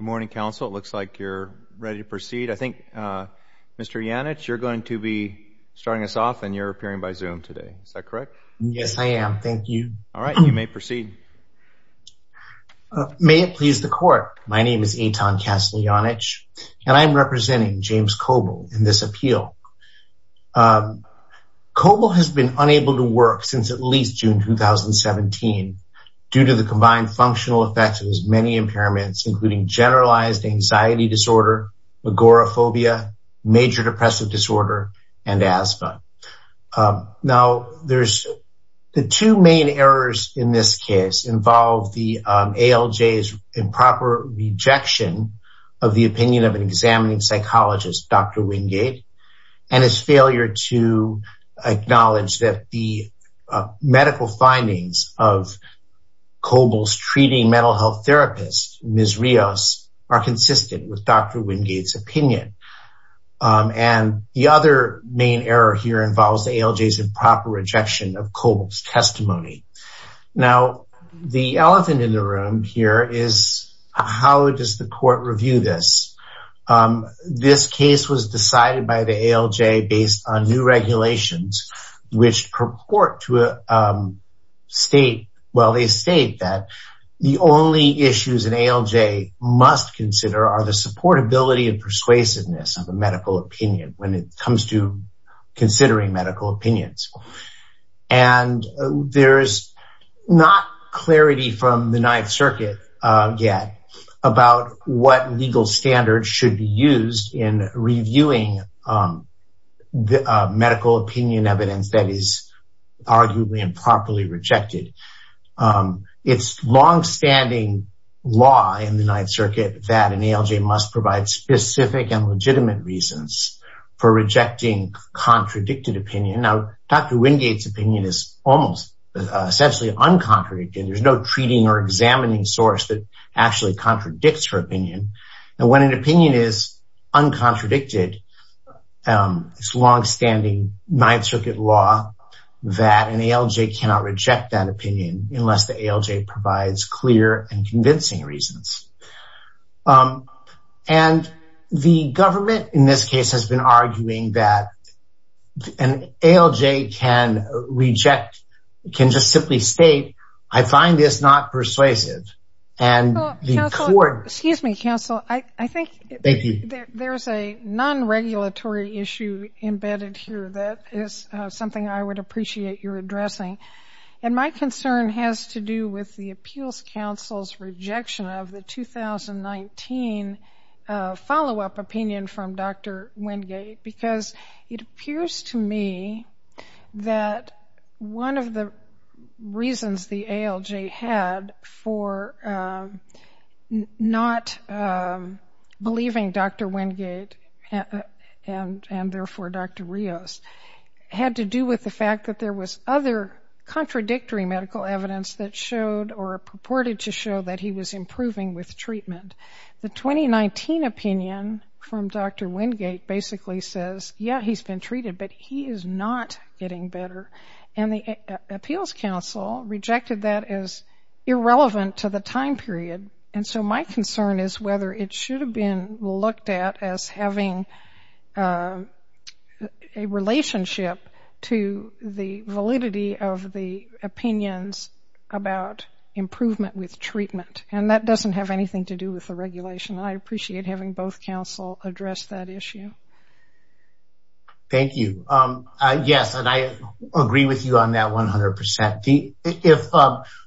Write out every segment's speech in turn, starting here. Good morning, Council. It looks like you're ready to proceed. I think, Mr. Janich, you're going to be starting us off, and you're appearing by Zoom today. Is that correct? Yes, I am. Thank you. All right. You may proceed. May it please the Court. My name is Eitan Kasteljanich, and I'm representing James Coble in this appeal. Coble has been unable to work since at least June 2017 due to the combined functional effects of his many impairments, including generalized anxiety disorder, agoraphobia, major depressive disorder, and asthma. Now, the two main errors in this case involve the ALJ's improper rejection of the opinion of an examining psychologist, Dr. Wingate, and his failure to acknowledge that the medical health therapist, Ms. Rios, are consistent with Dr. Wingate's opinion. And the other main error here involves the ALJ's improper rejection of Coble's testimony. Now, the elephant in the room here is, how does the Court review this? This case was decided by the ALJ based on new regulations, which purport to state, well, the only issues an ALJ must consider are the supportability and persuasiveness of a medical opinion when it comes to considering medical opinions. And there's not clarity from the Ninth Circuit yet about what legal standards should be used in reviewing medical opinion evidence that is arguably improperly rejected. It's long-standing law in the Ninth Circuit that an ALJ must provide specific and legitimate reasons for rejecting contradicted opinion. Now, Dr. Wingate's opinion is almost essentially uncontradicted. There's no treating or examining source that actually contradicts her opinion. And when an opinion is uncontradicted, it's long-standing Ninth Circuit law that an ALJ cannot reject that opinion unless the ALJ provides clear and convincing reasons. And the government, in this case, has been arguing that an ALJ can reject, can just simply state, I find this not persuasive. And the Court- Excuse me, counsel. I think there's a non-regulatory issue embedded here that is something I would appreciate your addressing. And my concern has to do with the Appeals Council's rejection of the 2019 follow-up opinion from Dr. Wingate. Because it appears to me that one of the reasons the ALJ had for not believing Dr. Wingate and therefore Dr. Rios had to do with the fact that there was other contradictory medical evidence that showed or purported to show that he was improving with treatment. The 2019 opinion from Dr. Wingate basically says, yeah, he's been treated, but he is not getting better. And the Appeals Council rejected that as irrelevant to the time period. And so my concern is whether it should have been looked at as having a relationship to the validity of the opinions about improvement with treatment. And that doesn't have anything to do with the regulation. I appreciate having both counsel address that issue. Thank you. Yes, and I agree with you on that 100%. If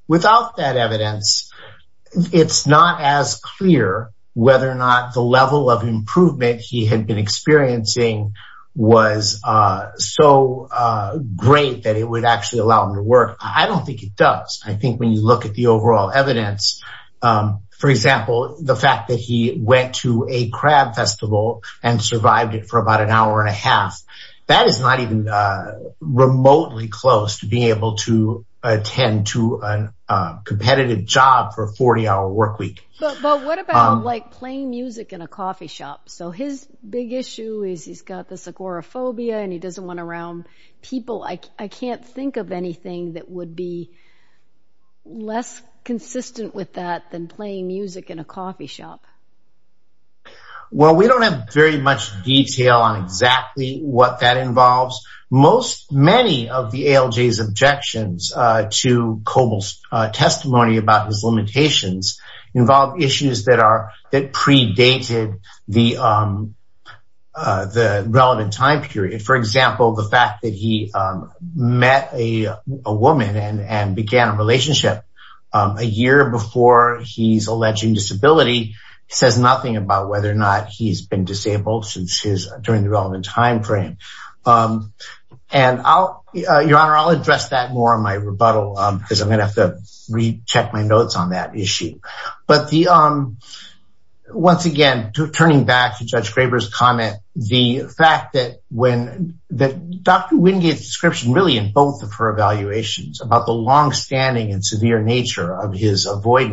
without that evidence, it's not as clear whether or not the level of improvement he had been experiencing was so great that it would actually allow him to work. I don't think it does. I think when you look at the overall evidence, for example, the fact that he went to a crab festival and survived it for about an hour and a half, that is not even remotely close to being able to attend to a competitive job for a 40-hour work week. But what about playing music in a coffee shop? So his big issue is he's got this agoraphobia, and he doesn't want to around people. I can't think of anything that would be less consistent with that than playing music in a coffee shop. Well, we don't have very much detail on exactly what that involves. Many of the ALJ's objections to Coble's testimony about his limitations involve issues that predated the relevant time period. For example, the fact that he met a woman and began a relationship a year before he's alleging disability says nothing about whether or not he's been disabled during the relevant time frame. Your Honor, I'll address that more in my rebuttal because I'm going to have to recheck my notes on that issue. But once again, turning back to Judge Graber's comment, the fact that Dr. Wingate's description really in both of her evaluations about the longstanding and severe nature of his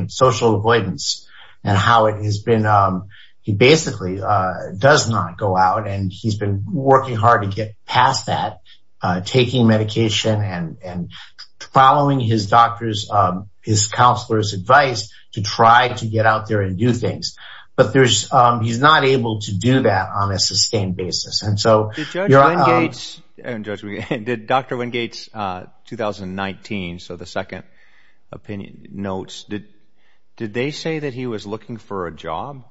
social avoidance and how he basically does not go out and he's been working hard to get past that, taking medication and following his counselor's advice to try to get out there and do things. But he's not able to do that on a sustained basis. Judge Wingate's 2019, so the second opinion notes, did they say that he was looking for a job?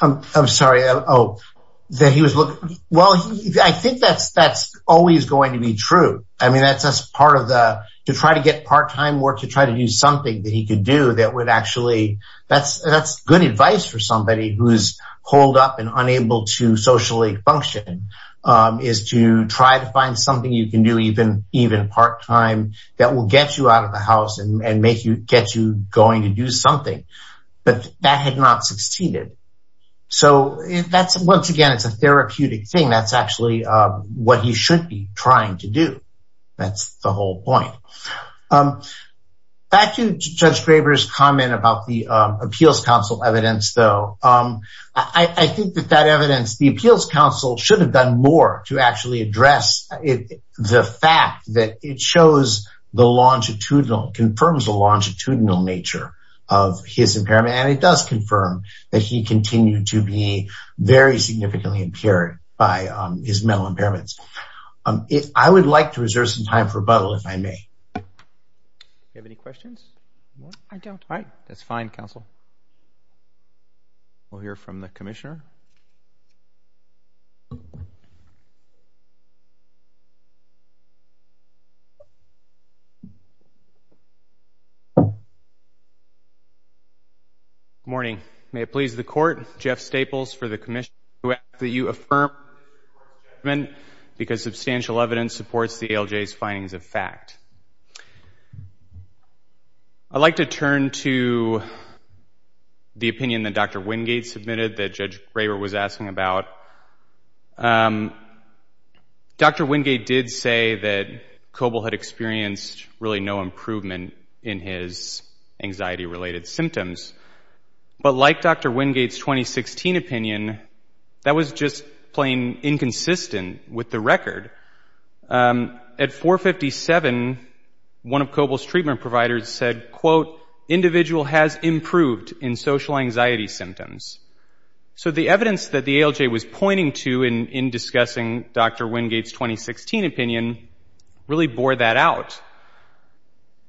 I'm sorry. Well, I think that's always going to be true. I mean, that's part of the, to try to get part-time work, to try to do something that would actually, that's good advice for somebody who's holed up and unable to socially function, is to try to find something you can do even part-time that will get you out of the house and make you, get you going to do something. But that had not succeeded. So that's, once again, it's a therapeutic thing. That's actually what he should be trying to do. That's the whole point. Um, back to Judge Graber's comment about the Appeals Council evidence, though, I think that that evidence, the Appeals Council should have done more to actually address the fact that it shows the longitudinal, confirms the longitudinal nature of his impairment. And it does confirm that he continued to be very significantly impaired by his mental impairments. Um, it, I would like to reserve some time for rebuttal if I may. Do you have any questions? I don't. All right. That's fine, counsel. We'll hear from the Commissioner. Good morning. May it please the Court. Jeff Staples for the Commission. We ask that you affirm your statement because substantial evidence supports the ALJ's findings of fact. I'd like to turn to the opinion that Dr. Wingate submitted that Judge Graber was asking about. Um, Dr. Wingate did say that Coble had experienced really no improvement in his anxiety-related symptoms. But like Dr. Wingate's 2016 opinion, that was just plain inconsistent with the record. Um, at 457, one of Coble's treatment providers said, quote, individual has improved in social anxiety symptoms. So the evidence that the ALJ was pointing to in discussing Dr. Wingate's 2016 opinion really bore that out.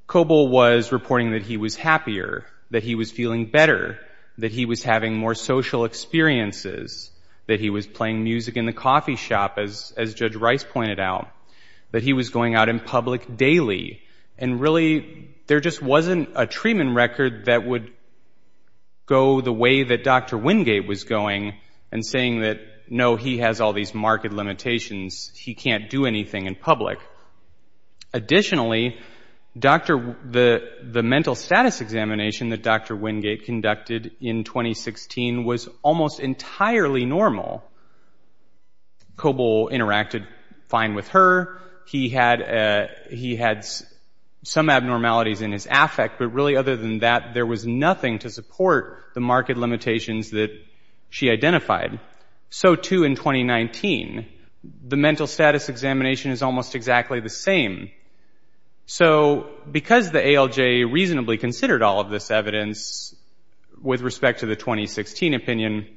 But Coble was reporting that he was happier, that he was feeling better, that he was having more social experiences, that he was playing music in the coffee shop, as Judge Rice pointed out, that he was going out in public daily. And really, there just wasn't a treatment record that would go the way that Dr. Wingate was going and saying that, no, he has all these marked limitations. He can't do anything in public. Additionally, the mental status examination that Dr. Wingate conducted in 2016 was almost entirely normal. Coble interacted fine with her. He had some abnormalities in his affect. But really, other than that, there was nothing to support the marked limitations that she identified. So, too, in 2019, the mental status examination is almost exactly the same. So because the ALJ reasonably considered all of this evidence with respect to the 2016 opinion,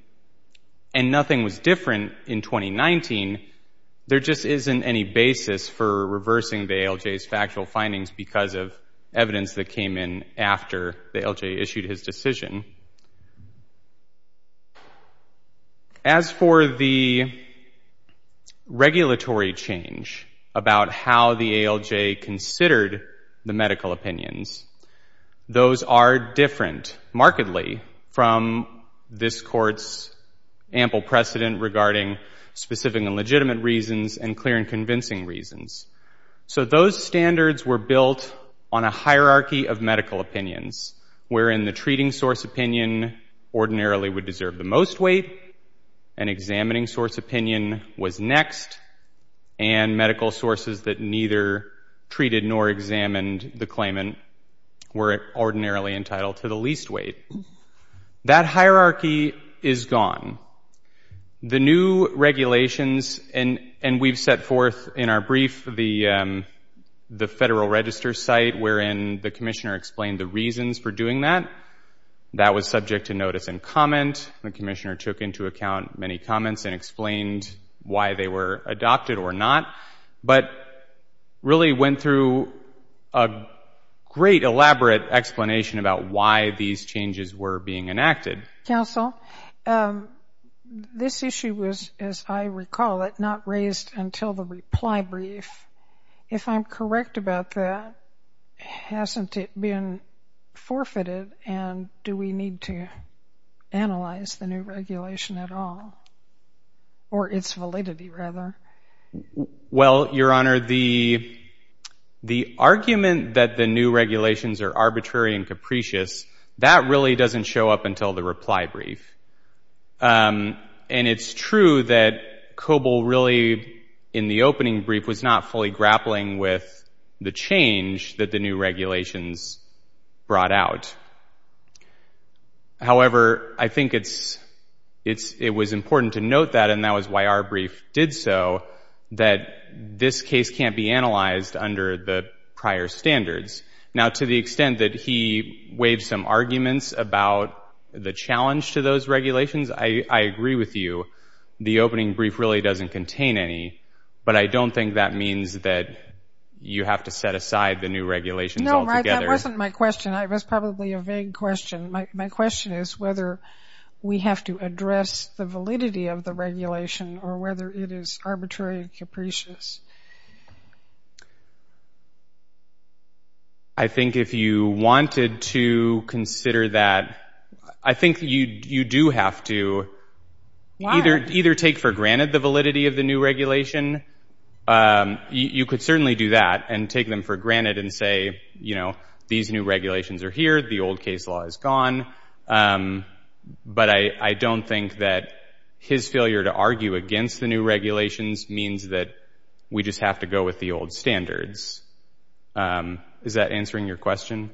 and nothing was different in 2019, there just isn't any basis for reversing the ALJ's factual findings because of evidence that came in after the ALJ issued his decision. As for the regulatory change about how the ALJ considered the medical opinions, those are different, markedly, from this Court's ample precedent regarding specific and legitimate reasons and clear and convincing reasons. So those standards were built on a hierarchy of medical opinions, wherein the treating source opinion ordinarily would deserve the most weight, an examining source opinion was next, and medical sources that neither treated nor examined the claimant were ordinarily entitled to the least weight. That hierarchy is gone. The new regulations, and we've set forth in our brief the Federal Register site, wherein the Commissioner explained the reasons for doing that, that was subject to notice and comment. The Commissioner took into account many comments and explained why they were adopted or not, but really went through a great, elaborate explanation about why these changes were being enacted. Counsel, this issue was, as I recall it, not raised until the reply brief. If I'm correct about that, hasn't it been forfeited, and do we need to analyze the new regulation at all, or its validity, rather? Well, Your Honor, the argument that the new regulations are arbitrary and capricious, that really doesn't show up until the reply brief. And it's true that Coble really, in the opening brief, was not fully grappling with the change that the new regulations brought out. However, I think it was important to note that, and that was why our brief did so, that this case can't be analyzed under the prior standards. Now, to the extent that he waved some arguments about the challenge to those regulations, I agree with you. The opening brief really doesn't contain any, but I don't think that means that you have to set aside the new regulations altogether. No, right, that wasn't my question. It was probably a vague question. My question is whether we have to address the validity of the regulation or whether it is arbitrary and capricious. I think if you wanted to consider that, I think you do have to either take for granted the validity of the new regulation. You could certainly do that and take them for granted and say, you know, these new regulations are here, the old case law is gone. But I don't think that his failure to argue against the new regulations means that we just have to go with the old standards. Is that answering your question?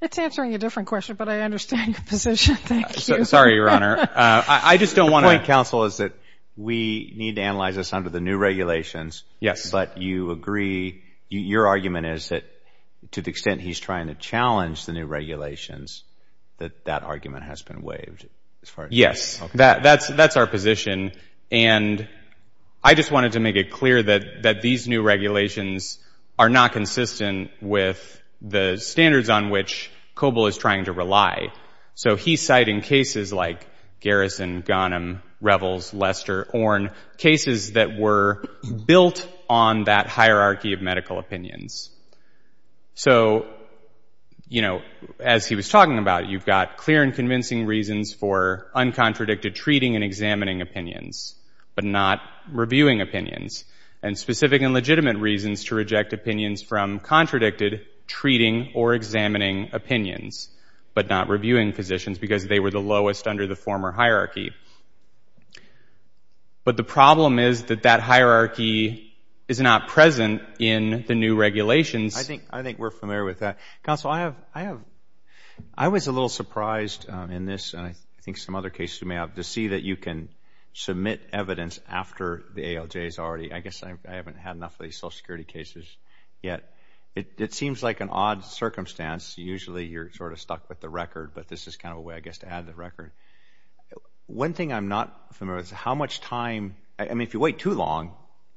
It's answering a different question, but I understand your position. Thank you. Sorry, Your Honor. I just don't want to— The point, counsel, is that we need to analyze this under the new regulations. Yes. But you agree, your argument is that to the extent he's trying to challenge the new regulations, that that argument has been waived as far as— Yes, that's our position. And I just wanted to make it clear that these new regulations are not consistent with the standards on which COBOL is trying to rely. So he's citing cases like Garrison, Ghanem, Revels, Lester, Orne, cases that were built on that hierarchy of medical opinions. So, you know, as he was talking about, you've got clear and convincing reasons for uncontradicted treating and examining opinions, but not reviewing opinions, and specific and legitimate reasons to reject opinions from contradicted treating or examining opinions, but not reviewing positions because they were the lowest under the former hierarchy. But the problem is that that hierarchy is not present in the new regulations. I think we're familiar with that. Counsel, I was a little surprised in this, and I think some other cases you may have, to see that you can submit evidence after the ALJs already. I guess I haven't had enough of these Social Security cases yet. It seems like an odd circumstance. Usually you're sort of stuck with the record, but this is kind of a way, I guess, to add the record. One thing I'm not familiar with is how much time—I mean, if you wait too long,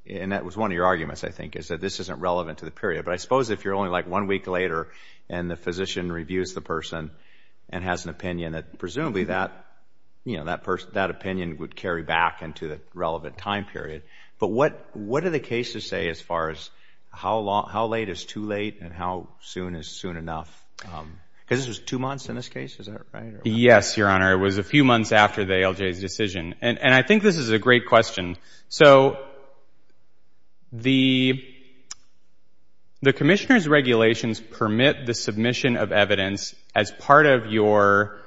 and that was one of your arguments, I think, is that this isn't relevant to the period, but I and the physician reviews the person and has an opinion that presumably that opinion would carry back into the relevant time period. But what do the cases say as far as how late is too late and how soon is soon enough? Because this was two months in this case, is that right? Yes, Your Honor. It was a few months after the ALJ's decision, and I think this is a great question. So, the Commissioner's regulations permit the submission of evidence as part of your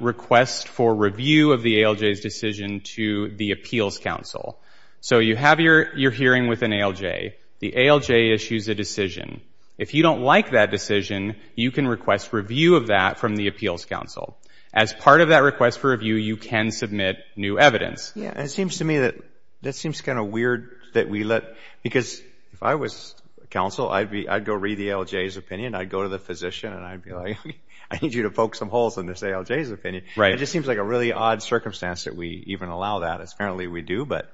request for review of the ALJ's decision to the Appeals Council. So, you have your hearing with an ALJ. The ALJ issues a decision. If you don't like that decision, you can request review of that from the Appeals Council. As part of that request for review, you can submit new evidence. It seems to me that that seems kind of weird that we let... Because if I was counsel, I'd go read the ALJ's opinion. I'd go to the physician, and I'd be like, I need you to poke some holes in this ALJ's opinion. It just seems like a really odd circumstance that we even allow that. As apparently, we do. But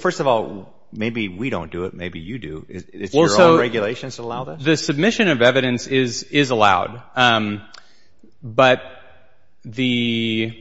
first of all, maybe we don't do it. Maybe you do. Is it your own regulations that allow that? The submission of evidence is allowed, but the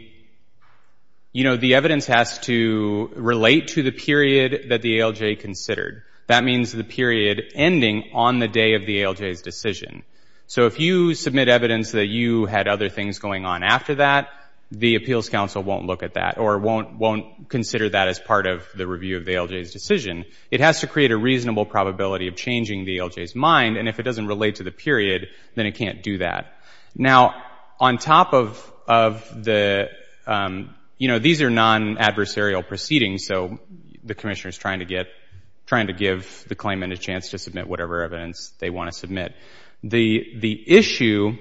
evidence has to relate to the period that the ALJ considered. That means the period ending on the day of the ALJ's decision. So, if you submit evidence that you had other things going on after that, the Appeals Council won't look at that or won't consider that as part of the review of the ALJ's decision. It has to create a reasonable probability of changing the ALJ's mind. If it doesn't relate to the period, then it can't do that. Now, on top of the... These are non-adversarial proceedings. So, the commissioner is trying to give the claimant a chance to submit whatever evidence they want to submit. The issue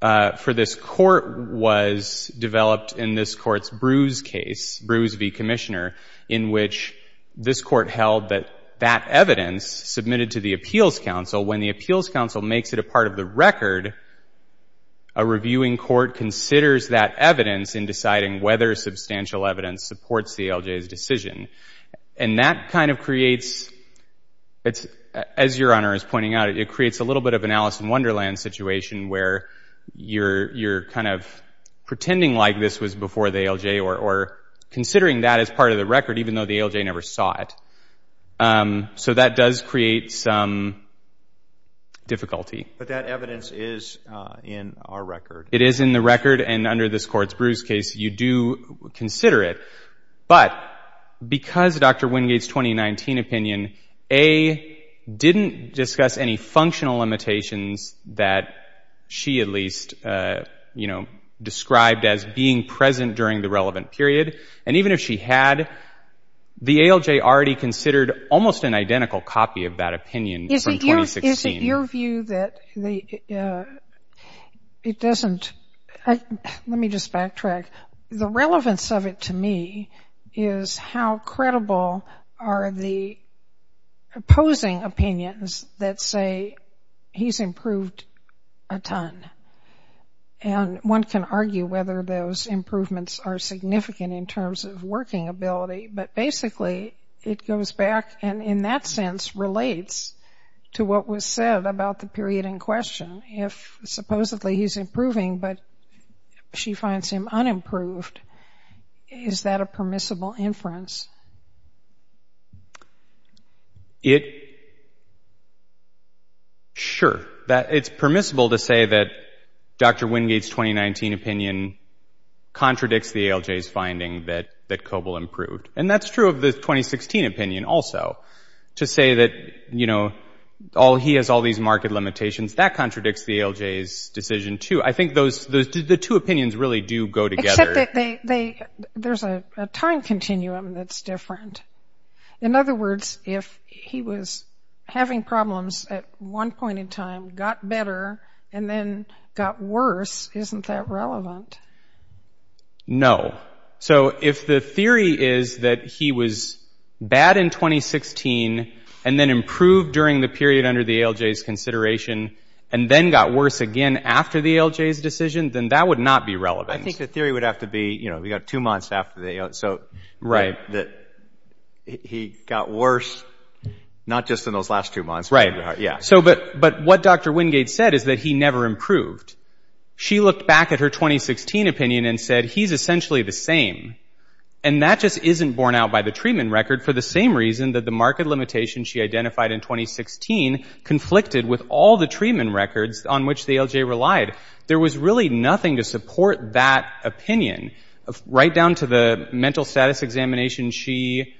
for this court was developed in this court's Bruce case, Bruce v. Commissioner, in which this court held that that evidence submitted to the Appeals Council, when the Appeals Council makes it a part of the record, a reviewing court considers that evidence in deciding whether substantial evidence supports the ALJ's decision. And that kind of creates... As Your Honor is pointing out, it creates a little bit of an Alice in Wonderland situation where you're kind of pretending like this was before the ALJ or considering that as a part of the record, even though the ALJ never saw it. So, that does create some difficulty. But that evidence is in our record. It is in the record. And under this court's Bruce case, you do consider it. But because of Dr. Wingate's 2019 opinion, A, didn't discuss any functional limitations that she at least described as being present during the relevant period. And even if she had, the ALJ already considered almost an identical copy of that opinion from 2016. Is it your view that it doesn't... Let me just backtrack. The relevance of it to me is how credible are the opposing opinions that say he's improved a ton. And one can argue whether those improvements are significant in terms of working ability. But basically, it goes back and in that sense relates to what was said about the period in question. If supposedly he's improving, but she finds him unimproved, is that a permissible inference? Sure, it's permissible to say that Dr. Wingate's 2019 opinion contradicts the ALJ's finding that Koble improved. And that's true of the 2016 opinion also, to say that, you know, he has all these marked limitations. That contradicts the ALJ's decision too. I think the two opinions really do go together. Except that there's a time continuum that's there. In other words, if he was having problems at one point in time, got better, and then got worse, isn't that relevant? No. So if the theory is that he was bad in 2016 and then improved during the period under the ALJ's consideration, and then got worse again after the ALJ's decision, then that would not be relevant. I think the theory would have to be, you know, we got two months after the ALJ. Right. He got worse, not just in those last two months. Right. But what Dr. Wingate said is that he never improved. She looked back at her 2016 opinion and said, he's essentially the same. And that just isn't borne out by the treatment record, for the same reason that the marked limitations she identified in 2016 conflicted with all the treatment records on which the ALJ relied. There was really nothing to support that opinion. Right down to the mental status examination she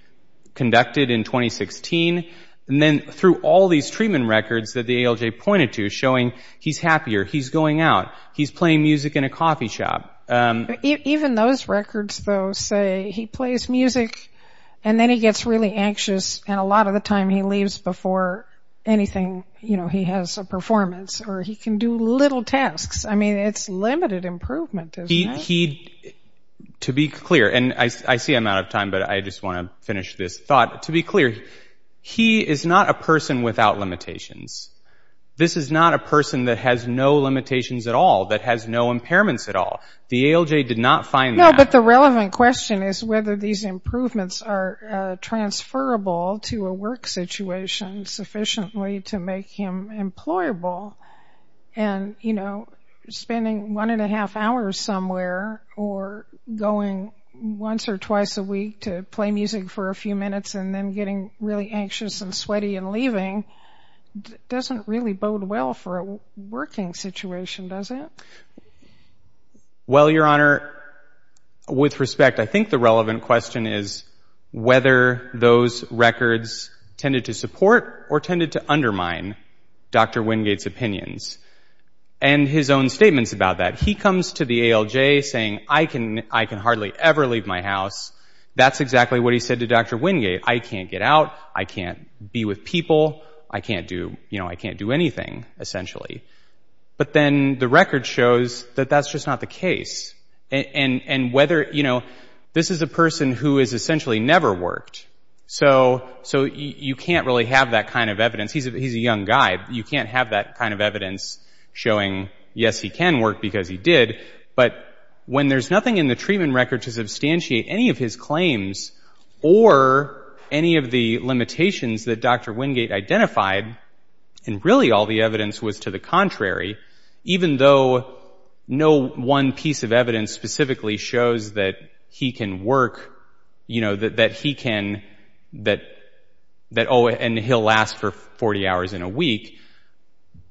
conducted in 2016, and then through all these treatment records that the ALJ pointed to, showing he's happier, he's going out, he's playing music in a coffee shop. Even those records, though, say he plays music and then he gets really anxious, and a lot of the time he leaves before anything, you know, he has a performance, or he can do little tasks. I mean, it's limited improvement, isn't it? He, to be clear, and I see I'm out of time, but I just want to finish this thought. To be clear, he is not a person without limitations. This is not a person that has no limitations at all, that has no impairments at all. The ALJ did not find that. No, but the relevant question is whether these improvements are transferable to a work situation sufficiently to make him employable. And, you know, spending one and a half hours somewhere or going once or twice a week to play music for a few minutes and then getting really anxious and sweaty and leaving doesn't really bode well for a working situation, does it? Well, Your Honor, with respect, I think the relevant question is whether those records tended to support or tended to undermine Dr. Wingate's opinions and his own statements about that. He comes to the ALJ saying, I can hardly ever leave my house. That's exactly what he said to Dr. Wingate. I can't get out. I can't be with people. I can't do, you know, I can't do anything, essentially. But then the record shows that that's just not the case, and whether, you know, this is a person who has essentially never worked. So you can't really have that kind of evidence. He's a young guy. You can't have that kind of evidence showing, yes, he can work because he did. But when there's nothing in the treatment record to substantiate any of his claims or any of the limitations that Dr. Wingate identified, and really all the evidence was to the contrary, even though no one piece of evidence specifically shows that he can work, you know, that he can, that, oh, and he'll last for 40 hours in a week,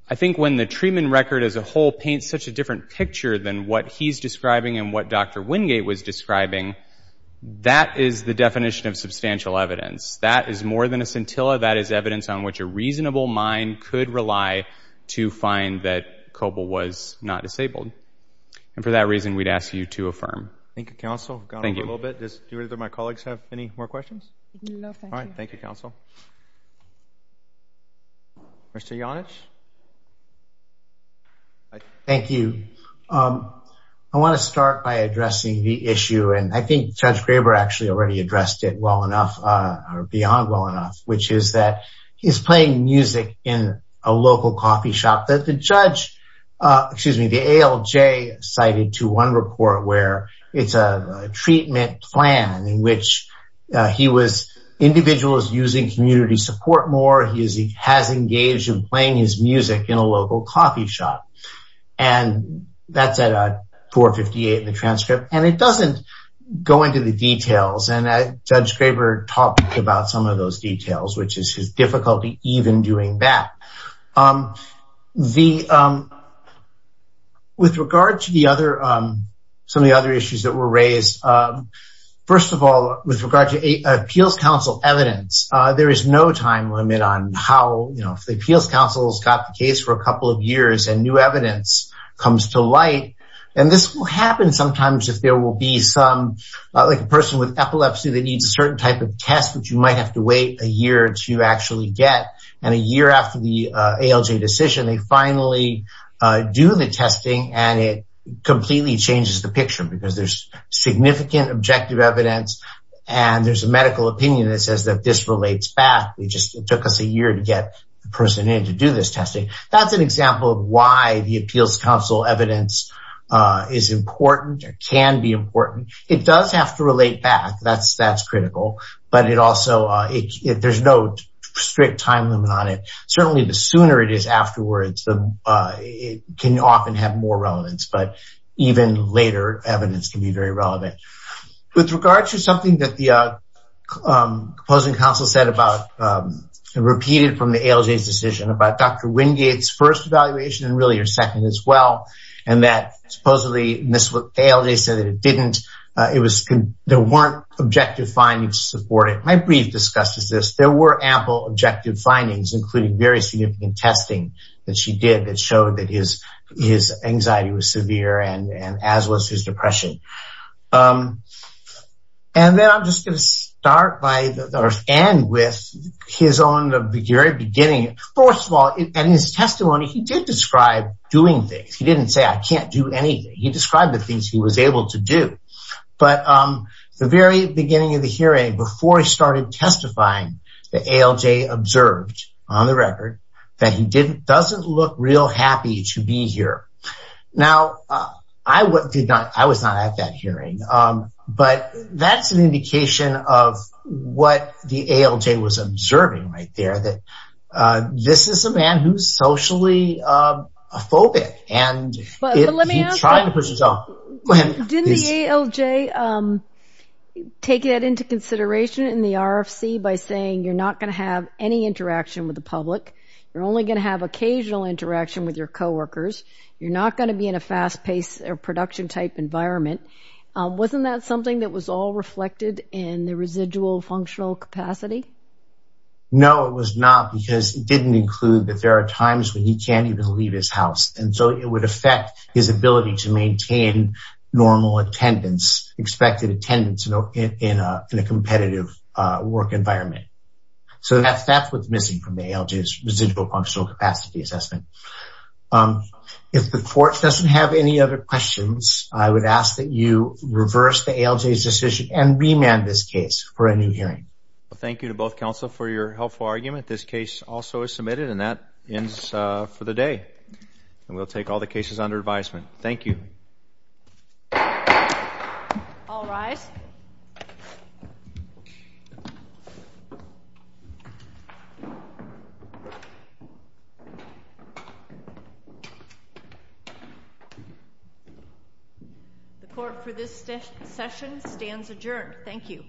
I think when the treatment record as a whole paints such a different picture than what he's describing and what Dr. Wingate was describing, that is the definition of substantial evidence. That is more than a scintilla. That is evidence on which a reasonable mind could rely to find that Coble was not disabled. And for that reason, we'd ask you to affirm. Thank you, counsel. Thank you. I've gone on a little bit. Do either of my colleagues have any more questions? No, thank you. All right. Thank you, counsel. Mr. Janich. Thank you. I want to start by addressing the issue, and I think Judge Graber actually already addressed it well enough, or beyond well enough, which is that he's playing music in a local coffee shop that the judge, excuse me, the ALJ cited to one report where it's a treatment plan in which he was, individuals using community support more, he has engaged in playing his music in a local coffee shop. And it doesn't go into the details, and Judge Graber talked about some of those details, which is his difficulty even doing that. With regard to some of the other issues that were raised, first of all, with regard to appeals counsel evidence, there is no time limit on how, you know, if the appeals counsel has got the case for a couple of years and new evidence comes to light, and this will sometimes, if there will be some, like a person with epilepsy that needs a certain type of test, which you might have to wait a year to actually get, and a year after the ALJ decision, they finally do the testing, and it completely changes the picture because there's significant objective evidence, and there's a medical opinion that says that this relates back. It just took us a year to get the person in to do this testing. That's an example of why the appeals counsel evidence is important, or can be important. It does have to relate back, that's critical, but it also, there's no strict time limit on it. Certainly the sooner it is afterwards, it can often have more relevance, but even later evidence can be very relevant. With regard to something that the opposing counsel said about, repeated from the ALJ's decision, about Dr. Wingate's first evaluation, and really her second as well, and that supposedly this would fail. They said that it didn't. There weren't objective findings to support it. My brief disgust is this. There were ample objective findings, including very significant testing that she did that showed that his anxiety was severe, as was his depression. Then I'm just going to start by, or end with, his own very beginning. First of all, in his testimony, he did describe doing things. He didn't say, I can't do anything. He described the things he was able to do. But the very beginning of the hearing, before he started testifying, the ALJ observed, on the record, that he doesn't look real happy to be here. Now, I was not at that hearing, but that's an indication of what the ALJ was observing right there, that this is a man who's socially a phobic, and he tried to push his own. But let me ask you, didn't the ALJ take that into consideration in the RFC by saying, you're not going to have any interaction with the public? You're only going to have occasional interaction with your coworkers. You're not going to be in a fast-paced production-type environment. Wasn't that something that was all reflected in the residual functional capacity? No, it was not, because it didn't include that there are times when he can't even leave his house. And so it would affect his ability to maintain normal attendance, expected attendance, in a competitive work environment. So that's what's missing from the ALJ's residual functional capacity assessment. If the court doesn't have any other questions, I would ask that you reverse the ALJ's decision and remand this case for a new hearing. Well, thank you to both counsel for your helpful argument. This case also is submitted, and that ends for the day. And we'll take all the cases under advisement. Thank you. All rise. The court for this session stands adjourned. Thank you.